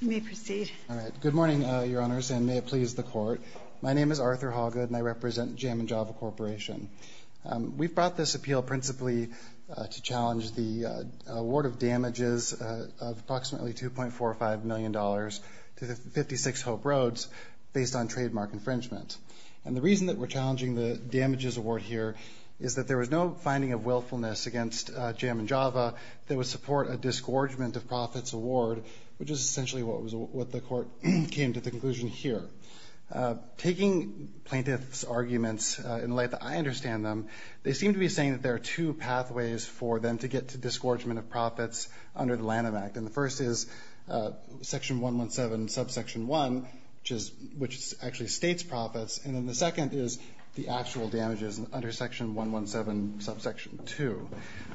You may proceed. All right. Good morning, Your Honors, and may it please the Court. My name is Arthur Hawgood and I represent Jammin Java Corporation. We've brought this appeal principally to challenge the award of damages of approximately $2.45 million to the 56 Hope Roads based on trademark infringement. And the reason that we're challenging the damages award here is that there was no finding of willfulness against Jammin Java that would support a disgorgement of profits award, which is essentially what the Court came to the conclusion here. Taking plaintiffs' arguments in the light that I understand them, they seem to be saying that there are two pathways for them to get to disgorgement of profits under the Lanham Act. And the first is Section 117, Subsection 1, which actually states profits, and then the second is the actual damages under Section 117, Subsection 2.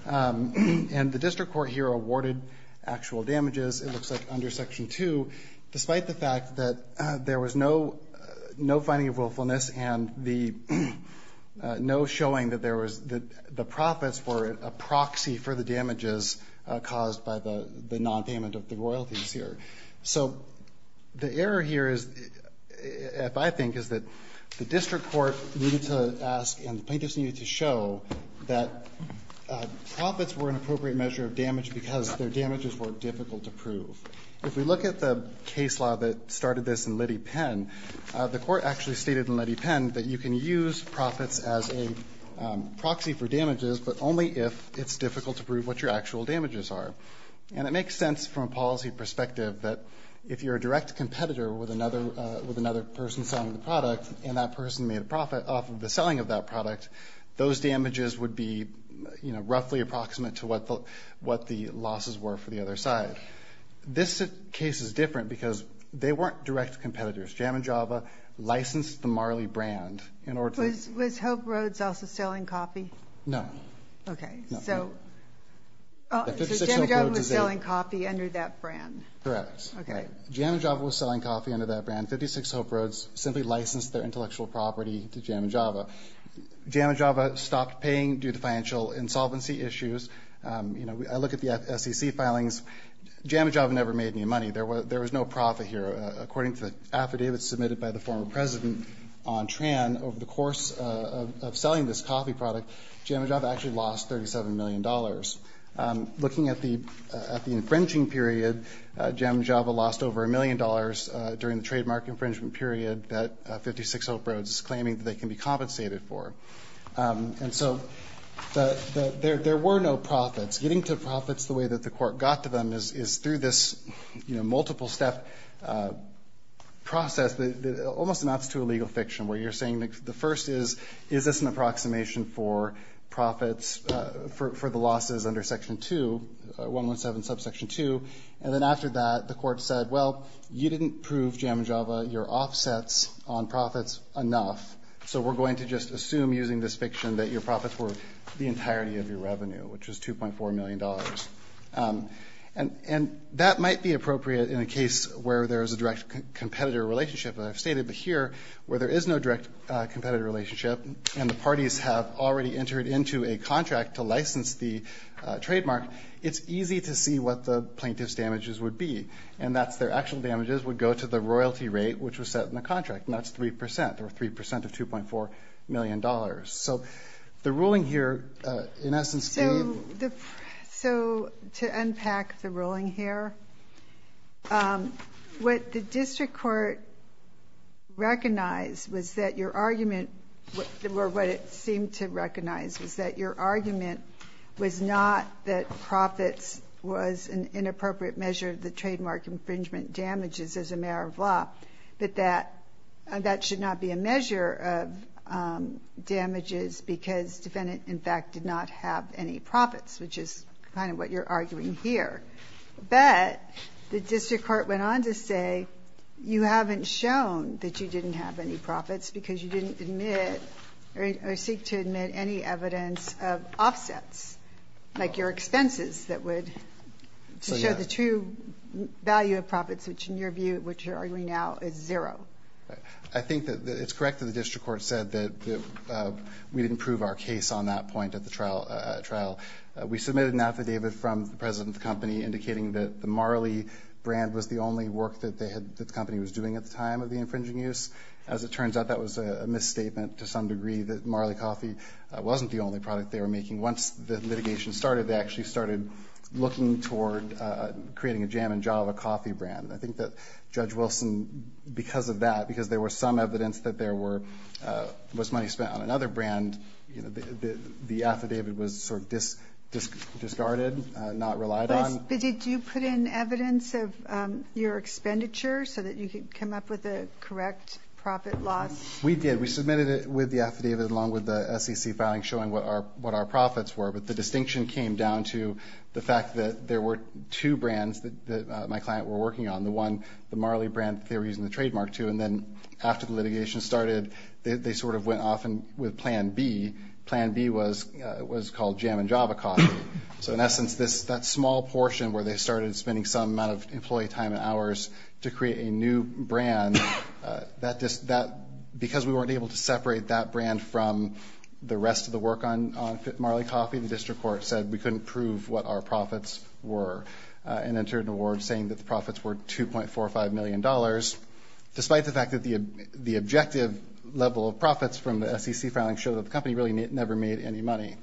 And the district court here awarded actual damages, it looks like, under Section 2, despite the fact that there was no finding of willfulness and no showing that the profits were a proxy for the damages caused by the nonpayment of the royalties here. So the error here, if I think, is that the district court needed to ask and the plaintiffs needed to show that profits were an appropriate measure of damage because their damages were difficult to prove. If we look at the case law that started this in Liddy Penn, the Court actually stated in Liddy Penn that you can use profits as a proxy for damages, but only if it's difficult to prove what your actual damages are. And it makes sense from a policy perspective and that person made a profit off of the selling of that product, those damages would be roughly approximate to what the losses were for the other side. This case is different because they weren't direct competitors. Jam & Java licensed the Marley brand in order to... Was Hope Roads also selling coffee? No. Okay. So Jam & Java was selling coffee under that brand. Correct. Jam & Java was selling coffee under that brand. 56 Hope Roads simply licensed their intellectual property to Jam & Java. Jam & Java stopped paying due to financial insolvency issues. I look at the SEC filings. Jam & Java never made any money. There was no profit here. According to the affidavit submitted by the former president on Tran, over the course of selling this coffee product, Jam & Java actually lost $37 million. Looking at the infringing period, Jam & Java lost over $1 million during the trademark infringement period that 56 Hope Roads is claiming that they can be compensated for. And so there were no profits. Getting to profits the way that the court got to them is through this, you know, multiple step process that almost amounts to a legal fiction where you're saying, the first is, is this an approximation for profits for the losses under Section 2, 117 subsection 2, and then after that the court said, well, you didn't prove Jam & Java your offsets on profits enough, so we're going to just assume using this fiction that your profits were the entirety of your revenue, which was $2.4 million. And that might be appropriate in a case where there is a direct competitor relationship, as I've stated, but here where there is no direct competitor relationship and the parties have already entered into a contract to license the trademark, it's easy to see what the plaintiff's damages would be, and that's their actual damages would go to the royalty rate, which was set in the contract, and that's 3%, or 3% of $2.4 million. So the ruling here, in essence, gave... So to unpack the ruling here, what the district court recognized was that your argument, or what it seemed to recognize was that your argument was not that profits was an inappropriate measure of the trademark infringement damages as a matter of law, but that that should not be a measure of damages because defendant, in fact, did not have any profits, which is kind of what you're arguing here. But the district court went on to say you haven't shown that you didn't have any profits because you didn't admit or seek to admit any evidence of offsets, like your expenses that would show the true value of profits, which in your view, which you're arguing now, is zero. I think that it's correct that the district court said that we didn't prove our case on that point at the trial. We submitted an affidavit from the president of the company indicating that the Marley brand was the only work that the company was doing at the time of the infringing use. As it turns out, that was a misstatement to some degree that Marley Coffee wasn't the only product they were making. Once the litigation started, they actually started looking toward creating a jam and java coffee brand. I think that Judge Wilson, because of that, because there was some evidence that there was money spent on another brand, the affidavit was sort of discarded, not relied on. Did you put in evidence of your expenditure so that you could come up with a correct profit loss? We did. We submitted it with the affidavit along with the SEC filing showing what our profits were, but the distinction came down to the fact that there were two brands that my client were working on, the one, the Marley brand that they were using the trademark to, and then after the litigation started, they sort of went off with plan B. Plan B was called jam and java coffee. So in essence, that small portion where they started spending some amount of employee time and hours to create a new brand, because we weren't able to separate that brand from the rest of the work on Marley Coffee, the district court said we couldn't prove what our profits were and entered an award saying that the profits were $2.45 million, despite the fact that the objective level of profits from the SEC filing showed that the company really never made any money.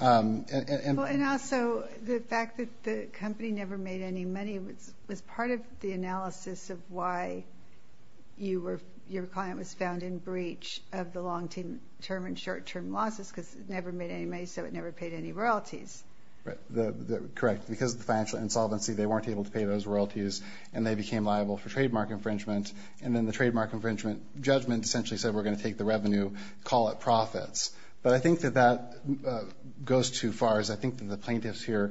And also the fact that the company never made any money was part of the analysis of why your client was found in breach of the long-term and short-term losses because it never made any money, so it never paid any royalties. Correct. Because of the financial insolvency, they weren't able to pay those royalties, and they became liable for trademark infringement, and then the trademark infringement judgment essentially said we're going to take the revenue, call it profits. But I think that that goes too far, as I think that the plaintiffs here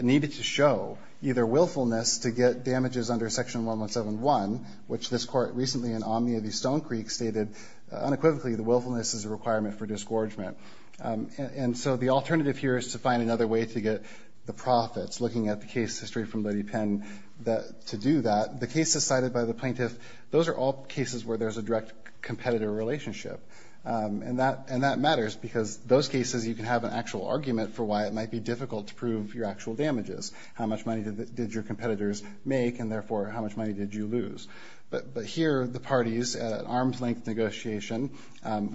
needed to show either willfulness to get damages under Section 1171, which this court recently in Omnia v. Stonecreek stated unequivocally the willfulness is a requirement for disgorgement. And so the alternative here is to find another way to get the profits, looking at the case history from Lady Penn, to do that. The cases cited by the plaintiff, those are all cases where there's a direct competitive relationship, and that matters because those cases you can have an actual argument for why it might be difficult to prove your actual damages. How much money did your competitors make, and therefore how much money did you lose? But here the parties, an arm's-length negotiation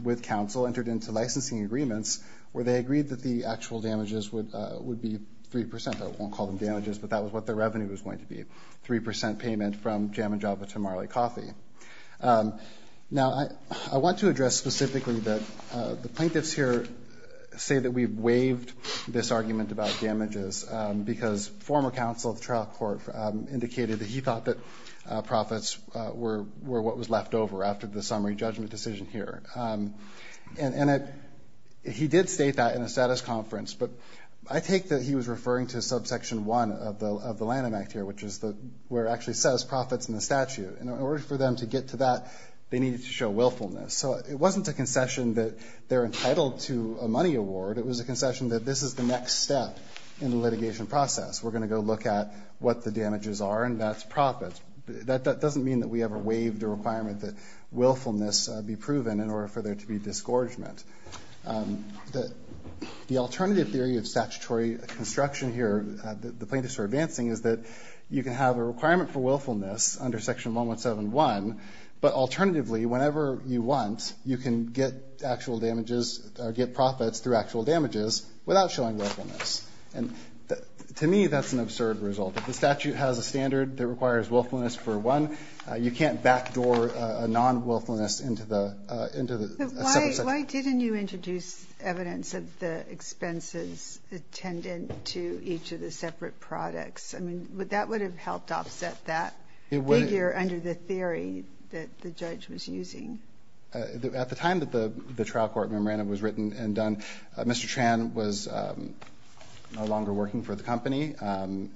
with counsel, entered into licensing agreements where they agreed that the actual damages would be 3 percent. I won't call them damages, but that was what the revenue was going to be, 3 percent payment from Jam & Java to Marley Coffee. Now, I want to address specifically that the plaintiffs here say that we've waived this argument about damages because former counsel of the trial court indicated that he thought that profits were what was left over after the summary judgment decision here. And he did state that in a status conference, but I take that he was referring to subsection 1 of the Lanham Act here, which is where it actually says profits in the statute. In order for them to get to that, they needed to show willfulness. So it wasn't a concession that they're entitled to a money award. It was a concession that this is the next step in the litigation process. We're going to go look at what the damages are, and that's profits. That doesn't mean that we ever waived the requirement that willfulness be proven in order for there to be disgorgement. The alternative theory of statutory construction here, the plaintiffs are advancing, is that you can have a requirement for willfulness under Section 117.1, but alternatively, whenever you want, you can get actual damages or get profits through actual damages without showing willfulness. And to me, that's an absurd result. If the statute has a standard that requires willfulness for one, you can't backdoor a non-willfulness into the subsection. So why didn't you introduce evidence of the expenses attendant to each of the separate products? I mean, that would have helped offset that figure under the theory that the judge was using. At the time that the trial court memorandum was written and done, Mr. Tran was no longer working for the company, and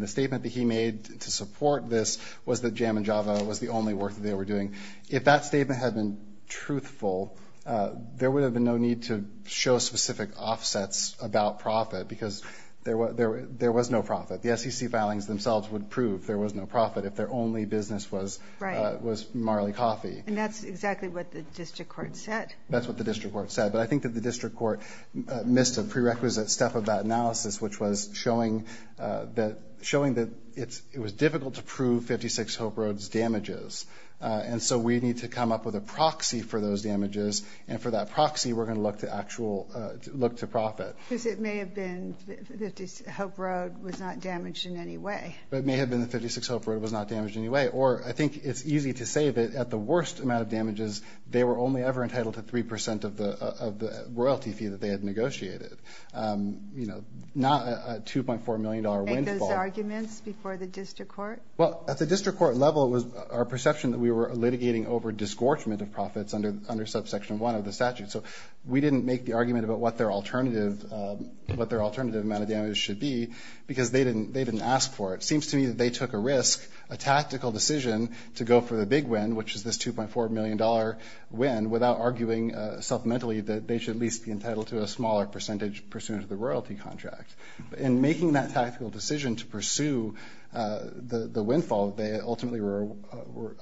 the statement that he made to support this was that JAM and JAVA was the only work that they were doing. If that statement had been truthful, there would have been no need to show specific offsets about profit, because there was no profit. The SEC filings themselves would prove there was no profit if their only business was Marley Coffee. And that's exactly what the district court said. That's what the district court said. But I think that the district court missed a prerequisite step of that analysis, which was showing that it was difficult to prove 56 Hope Road's damages. And so we need to come up with a proxy for those damages. And for that proxy, we're going to look to profit. Because it may have been that 56 Hope Road was not damaged in any way. It may have been that 56 Hope Road was not damaged in any way. Or I think it's easy to say that at the worst amount of damages, they were only ever entitled to 3 percent of the royalty fee that they had negotiated. You know, not a $2.4 million windfall. And those arguments before the district court? Well, at the district court level, it was our perception that we were litigating over disgorgement of profits under Subsection 1 of the statute. So we didn't make the argument about what their alternative amount of damage should be, because they didn't ask for it. It seems to me that they took a risk, a tactical decision, to go for the big win, which is this $2.4 million win, without arguing supplementally that they should at least be entitled to a smaller percentage pursuant to the royalty contract. In making that tactical decision to pursue the windfall that they ultimately were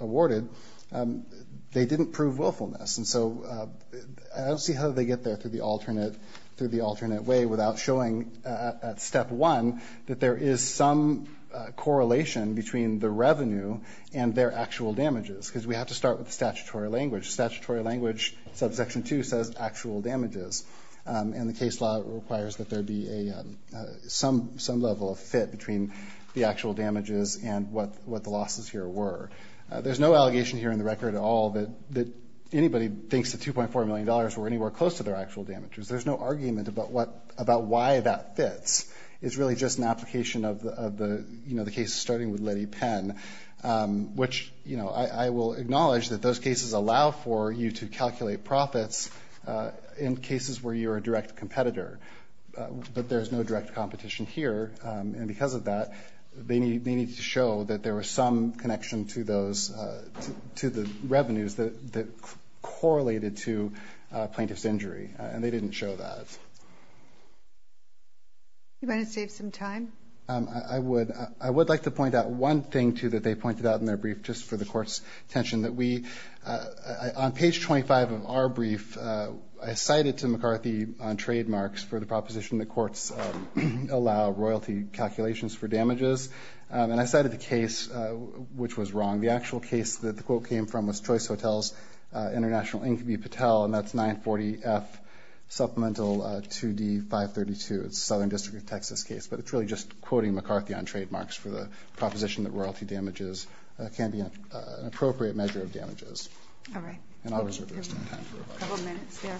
awarded, they didn't prove willfulness. And so I don't see how they get there through the alternate way without showing at Step 1 that there is some correlation between the revenue and their actual damages. Because we have to start with statutory language. Statutory language, Subsection 2 says actual damages. And the case law requires that there be some level of fit between the actual damages and what the losses here were. There's no allegation here in the record at all that anybody thinks the $2.4 million were anywhere close to their actual damages. There's no argument about why that fits. It's really just an application of the case starting with Letty Penn, which I will acknowledge that those cases allow for you to calculate profits in cases where you're a direct competitor. But there's no direct competition here. And because of that, they needed to show that there was some connection to the revenues that correlated to plaintiff's injury. And they didn't show that. You want to save some time? I would like to point out one thing, too, that they pointed out in their brief, just for the Court's attention. On page 25 of our brief, I cited to McCarthy on trademarks for the proposition that courts allow royalty calculations for damages. And I cited the case which was wrong. The actual case that the quote came from was Choice Hotels International, Inc. v. Patel, and that's 940F Supplemental 2D-532. It's a Southern District of Texas case. But it's really just quoting McCarthy on trademarks for the proposition that All right. A couple minutes there.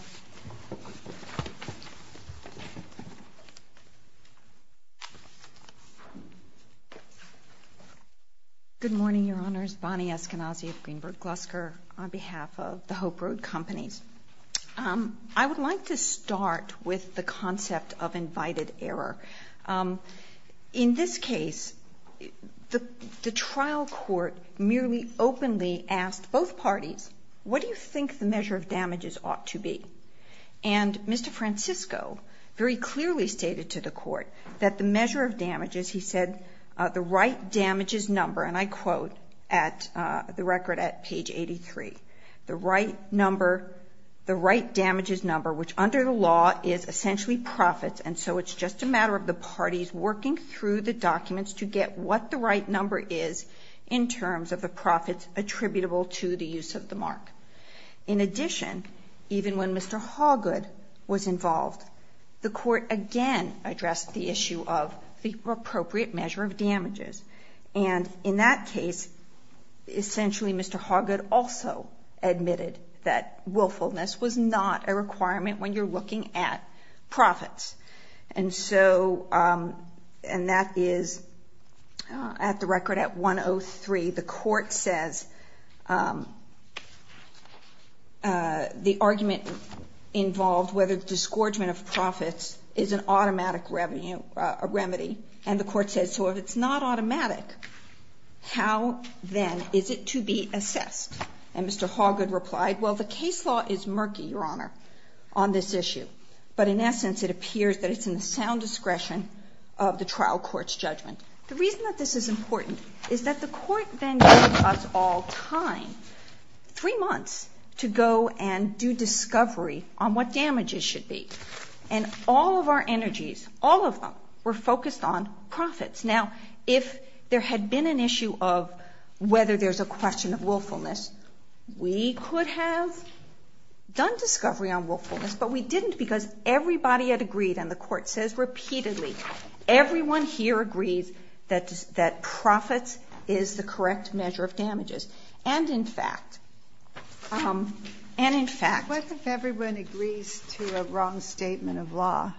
Good morning, Your Honors. Bonnie Eskenazi of Greenberg Glusker on behalf of the Hope Road Companies. I would like to start with the concept of invited error. In this case, the trial court merely openly asked both parties, what do you think the measure of damages ought to be? And Mr. Francisco very clearly stated to the court that the measure of damages, he said, the right damages number, and I quote at the record at page 83, the right number, the right damages number, which under the law is essentially profits, and so it's just a matter of the parties working through the documents to get what the right number is in terms of the profits attributable to the use of the mark. In addition, even when Mr. Hawgood was involved, the court again addressed the issue of the appropriate measure of damages. And in that case, essentially Mr. Hawgood also admitted that willfulness was not a requirement when you're looking at profits. And so, and that is at the record at 103, the court says the argument involved, whether the disgorgement of profits is an automatic remedy. And the court says, so if it's not automatic, how then is it to be assessed? And Mr. Hawgood replied, well, the case law is murky, Your Honor. On this issue. But in essence, it appears that it's in the sound discretion of the trial court's judgment. The reason that this is important is that the court then gave us all time, three months, to go and do discovery on what damages should be. And all of our energies, all of them, were focused on profits. Now, if there had been an issue of whether there's a question of willfulness, we could have done discovery on willfulness. But we didn't because everybody had agreed, and the court says repeatedly, everyone here agrees that profits is the correct measure of damages. And in fact, and in fact. What if everyone agrees to a wrong statement of law?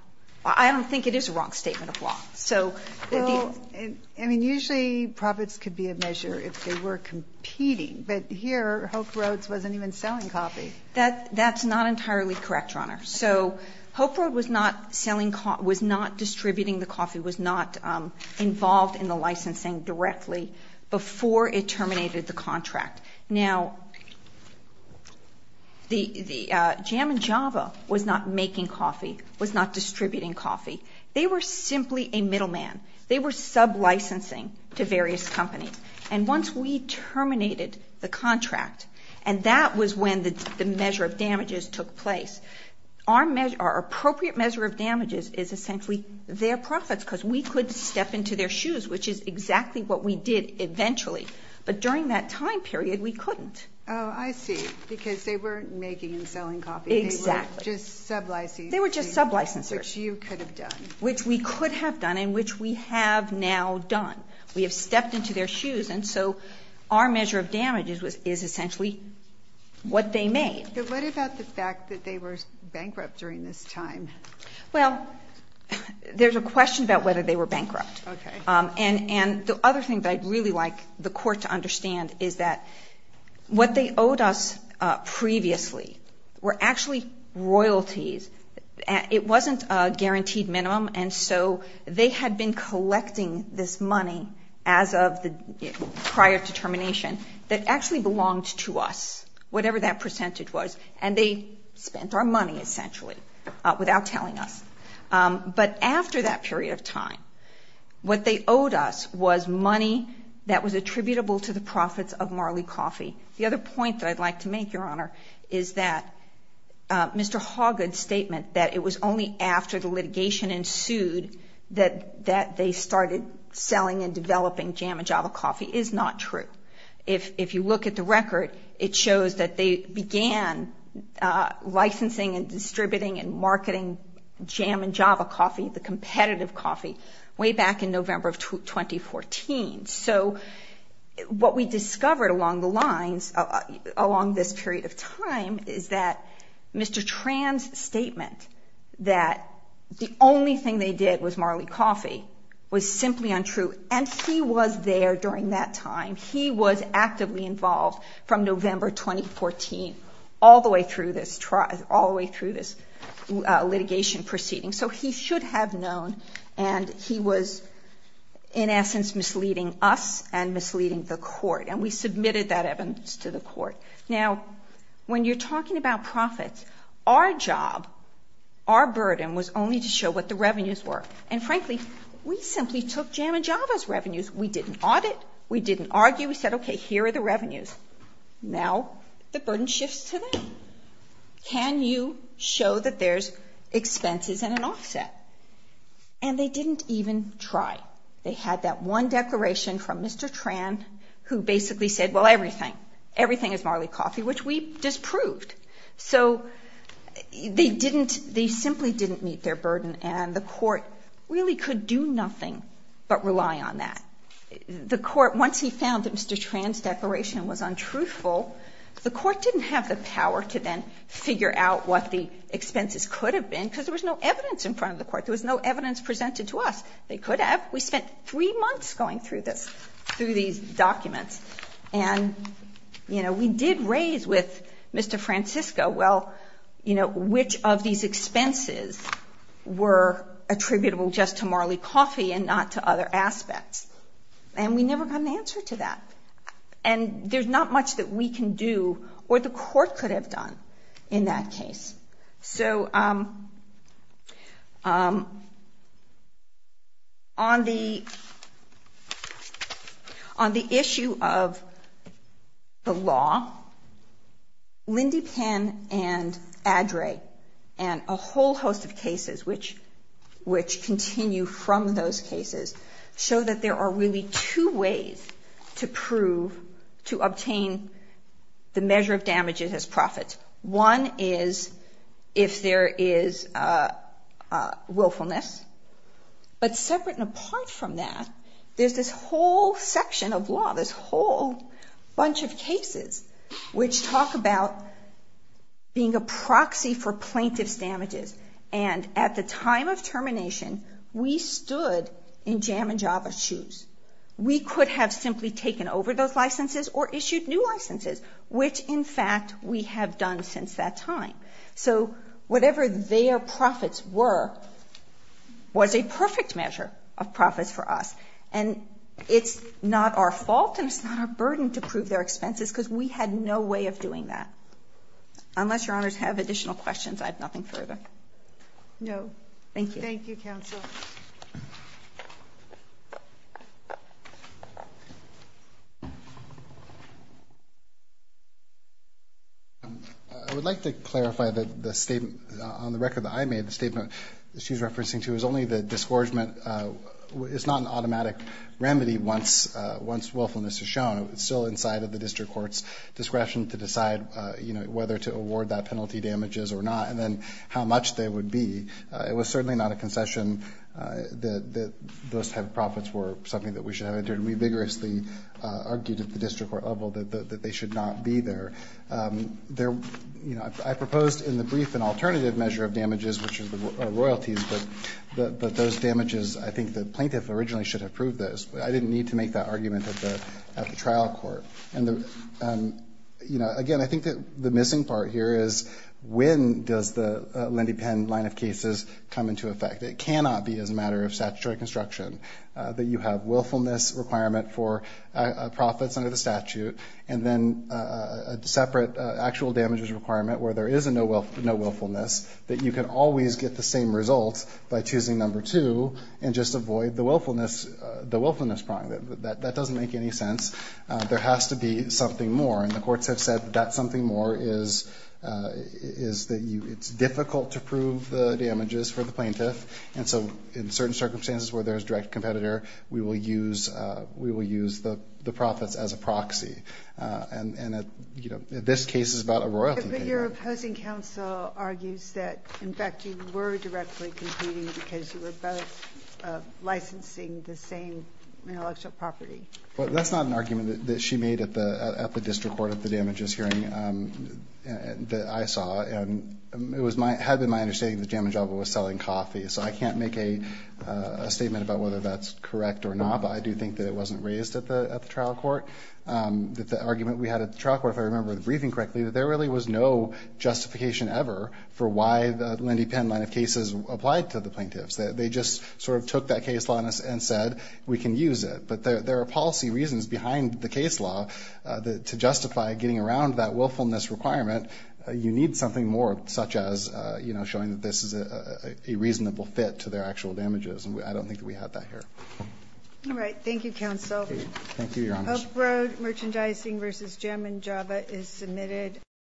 I don't think it is a wrong statement of law. So, if you. I mean, usually profits could be a measure if they were competing. But here, Hope Roads wasn't even selling coffee. That's not entirely correct, Your Honor. So, Hope Road was not selling, was not distributing the coffee, was not involved in the licensing directly before it terminated the contract. Now, the Jam & Java was not making coffee, was not distributing coffee. They were simply a middleman. They were sub-licensing to various companies. And once we terminated the contract, and that was when the measure of damages took place, our appropriate measure of damages is essentially their profits because we could step into their shoes, which is exactly what we did eventually. But during that time period, we couldn't. Oh, I see. Because they weren't making and selling coffee. Exactly. They were just sub-licensing. They were just sub-licensers. Which you could have done. Which we could have done and which we have now done. We have stepped into their shoes, and so our measure of damages is essentially what they made. But what about the fact that they were bankrupt during this time? Well, there's a question about whether they were bankrupt. Okay. And the other thing that I'd really like the court to understand is that what they owed us previously were actually royalties. It wasn't a guaranteed minimum, and so they had been collecting this money as of the prior determination that actually belonged to us, whatever that percentage was. And they spent our money, essentially, without telling us. But after that period of time, what they owed us was money that was attributable to the profits of Marley Coffee. The other point that I'd like to make, Your Honor, is that Mr. Hawgood's statement that it was only after the litigation ensued that they started selling and developing Jam & Java Coffee is not true. If you look at the record, it shows that they began licensing and distributing and marketing Jam & Java Coffee, the competitive coffee, way back in November of 2014. So what we discovered along the lines, along this period of time, is that Mr. Tran's statement that the only thing they did was Marley Coffee was simply untrue. And he was there during that time. He was actively involved from November 2014 all the way through this litigation proceeding. So he should have known, and he was, in essence, misleading us and misleading the court. And we submitted that evidence to the court. Now, when you're talking about profits, our job, our burden, was only to show what the revenues were. And frankly, we simply took Jam & Java's revenues. We didn't audit. We didn't argue. We said, okay, here are the revenues. Now the burden shifts to them. Can you show that there's expenses and an offset? And they didn't even try. They had that one declaration from Mr. Tran who basically said, well, everything. Everything is Marley Coffee, which we disproved. So they simply didn't meet their burden, and the court really could do nothing but rely on that. The court, once he found that Mr. Tran's declaration was untruthful, the court didn't have the power to then figure out what the expenses could have been because there was no evidence in front of the court. There was no evidence presented to us. They could have. We spent three months going through this, through these documents. And, you know, we did raise with Mr. Francisco, well, you know, which of these expenses were attributable just to Marley Coffee and not to other aspects. And we never got an answer to that. And there's not much that we can do or the court could have done in that case. So on the issue of the law, Lindy Penn and Addrey and a whole host of cases which continue from those cases show that there are really two ways to prove, to obtain the measure of damages as profits. One is if there is willfulness. But separate and apart from that, there's this whole section of law, this whole bunch of cases, which talk about being a proxy for plaintiff's damages. And at the time of termination, we stood in Jam and Java's shoes. We could have simply taken over those licenses or issued new licenses, which, in fact, we have done since that time. So whatever their profits were was a perfect measure of profits for us. And it's not our fault and it's not our burden to prove their expenses because we had no way of doing that. Unless Your Honors have additional questions, I have nothing further. No. Thank you. Thank you, Counsel. I would like to clarify that the statement on the record that I made, the statement that she's referencing to, is only that disgorgement is not an automatic remedy once willfulness is shown. It's still inside of the district court's discretion to decide, you know, whether to award that penalty damages or not and then how much they would be. It was certainly not a concession. Those type of profits were something that we should have entered. We vigorously argued at the district court level that they should not be there. You know, I proposed in the brief an alternative measure of damages, which are royalties, but those damages, I think the plaintiff originally should have proved those. I didn't need to make that argument at the trial court. And, you know, again, I think that the missing part here is when does the Lendy Penn line of cases come into effect? It cannot be as a matter of statutory construction that you have willfulness requirement for profits under the statute and then a separate actual damages requirement where there is no willfulness that you can always get the same results by choosing number two and just avoid the willfulness problem. That doesn't make any sense. There has to be something more, and the courts have said that something more is that it's difficult to prove the damages for the plaintiff, and so in certain circumstances where there is direct competitor, we will use the profits as a proxy. And, you know, this case is about a royalty. But your opposing counsel argues that, in fact, you were directly competing because you were both licensing the same intellectual property. Well, that's not an argument that she made at the district court at the damages hearing that I saw, and it had been my understanding that Jamin Jabba was selling coffee, so I can't make a statement about whether that's correct or not, but I do think that it wasn't raised at the trial court. The argument we had at the trial court, if I remember the briefing correctly, that there really was no justification ever for why the Lendy Penn line of cases applied to the plaintiffs. They just sort of took that case law and said, we can use it. But there are policy reasons behind the case law to justify getting around that willfulness requirement. You need something more, such as, you know, showing that this is a reasonable fit to their actual damages. And I don't think that we have that here. All right. Thank you, counsel. Thank you, Your Honor. Oak Road Merchandising v. Jamin Jabba is submitted.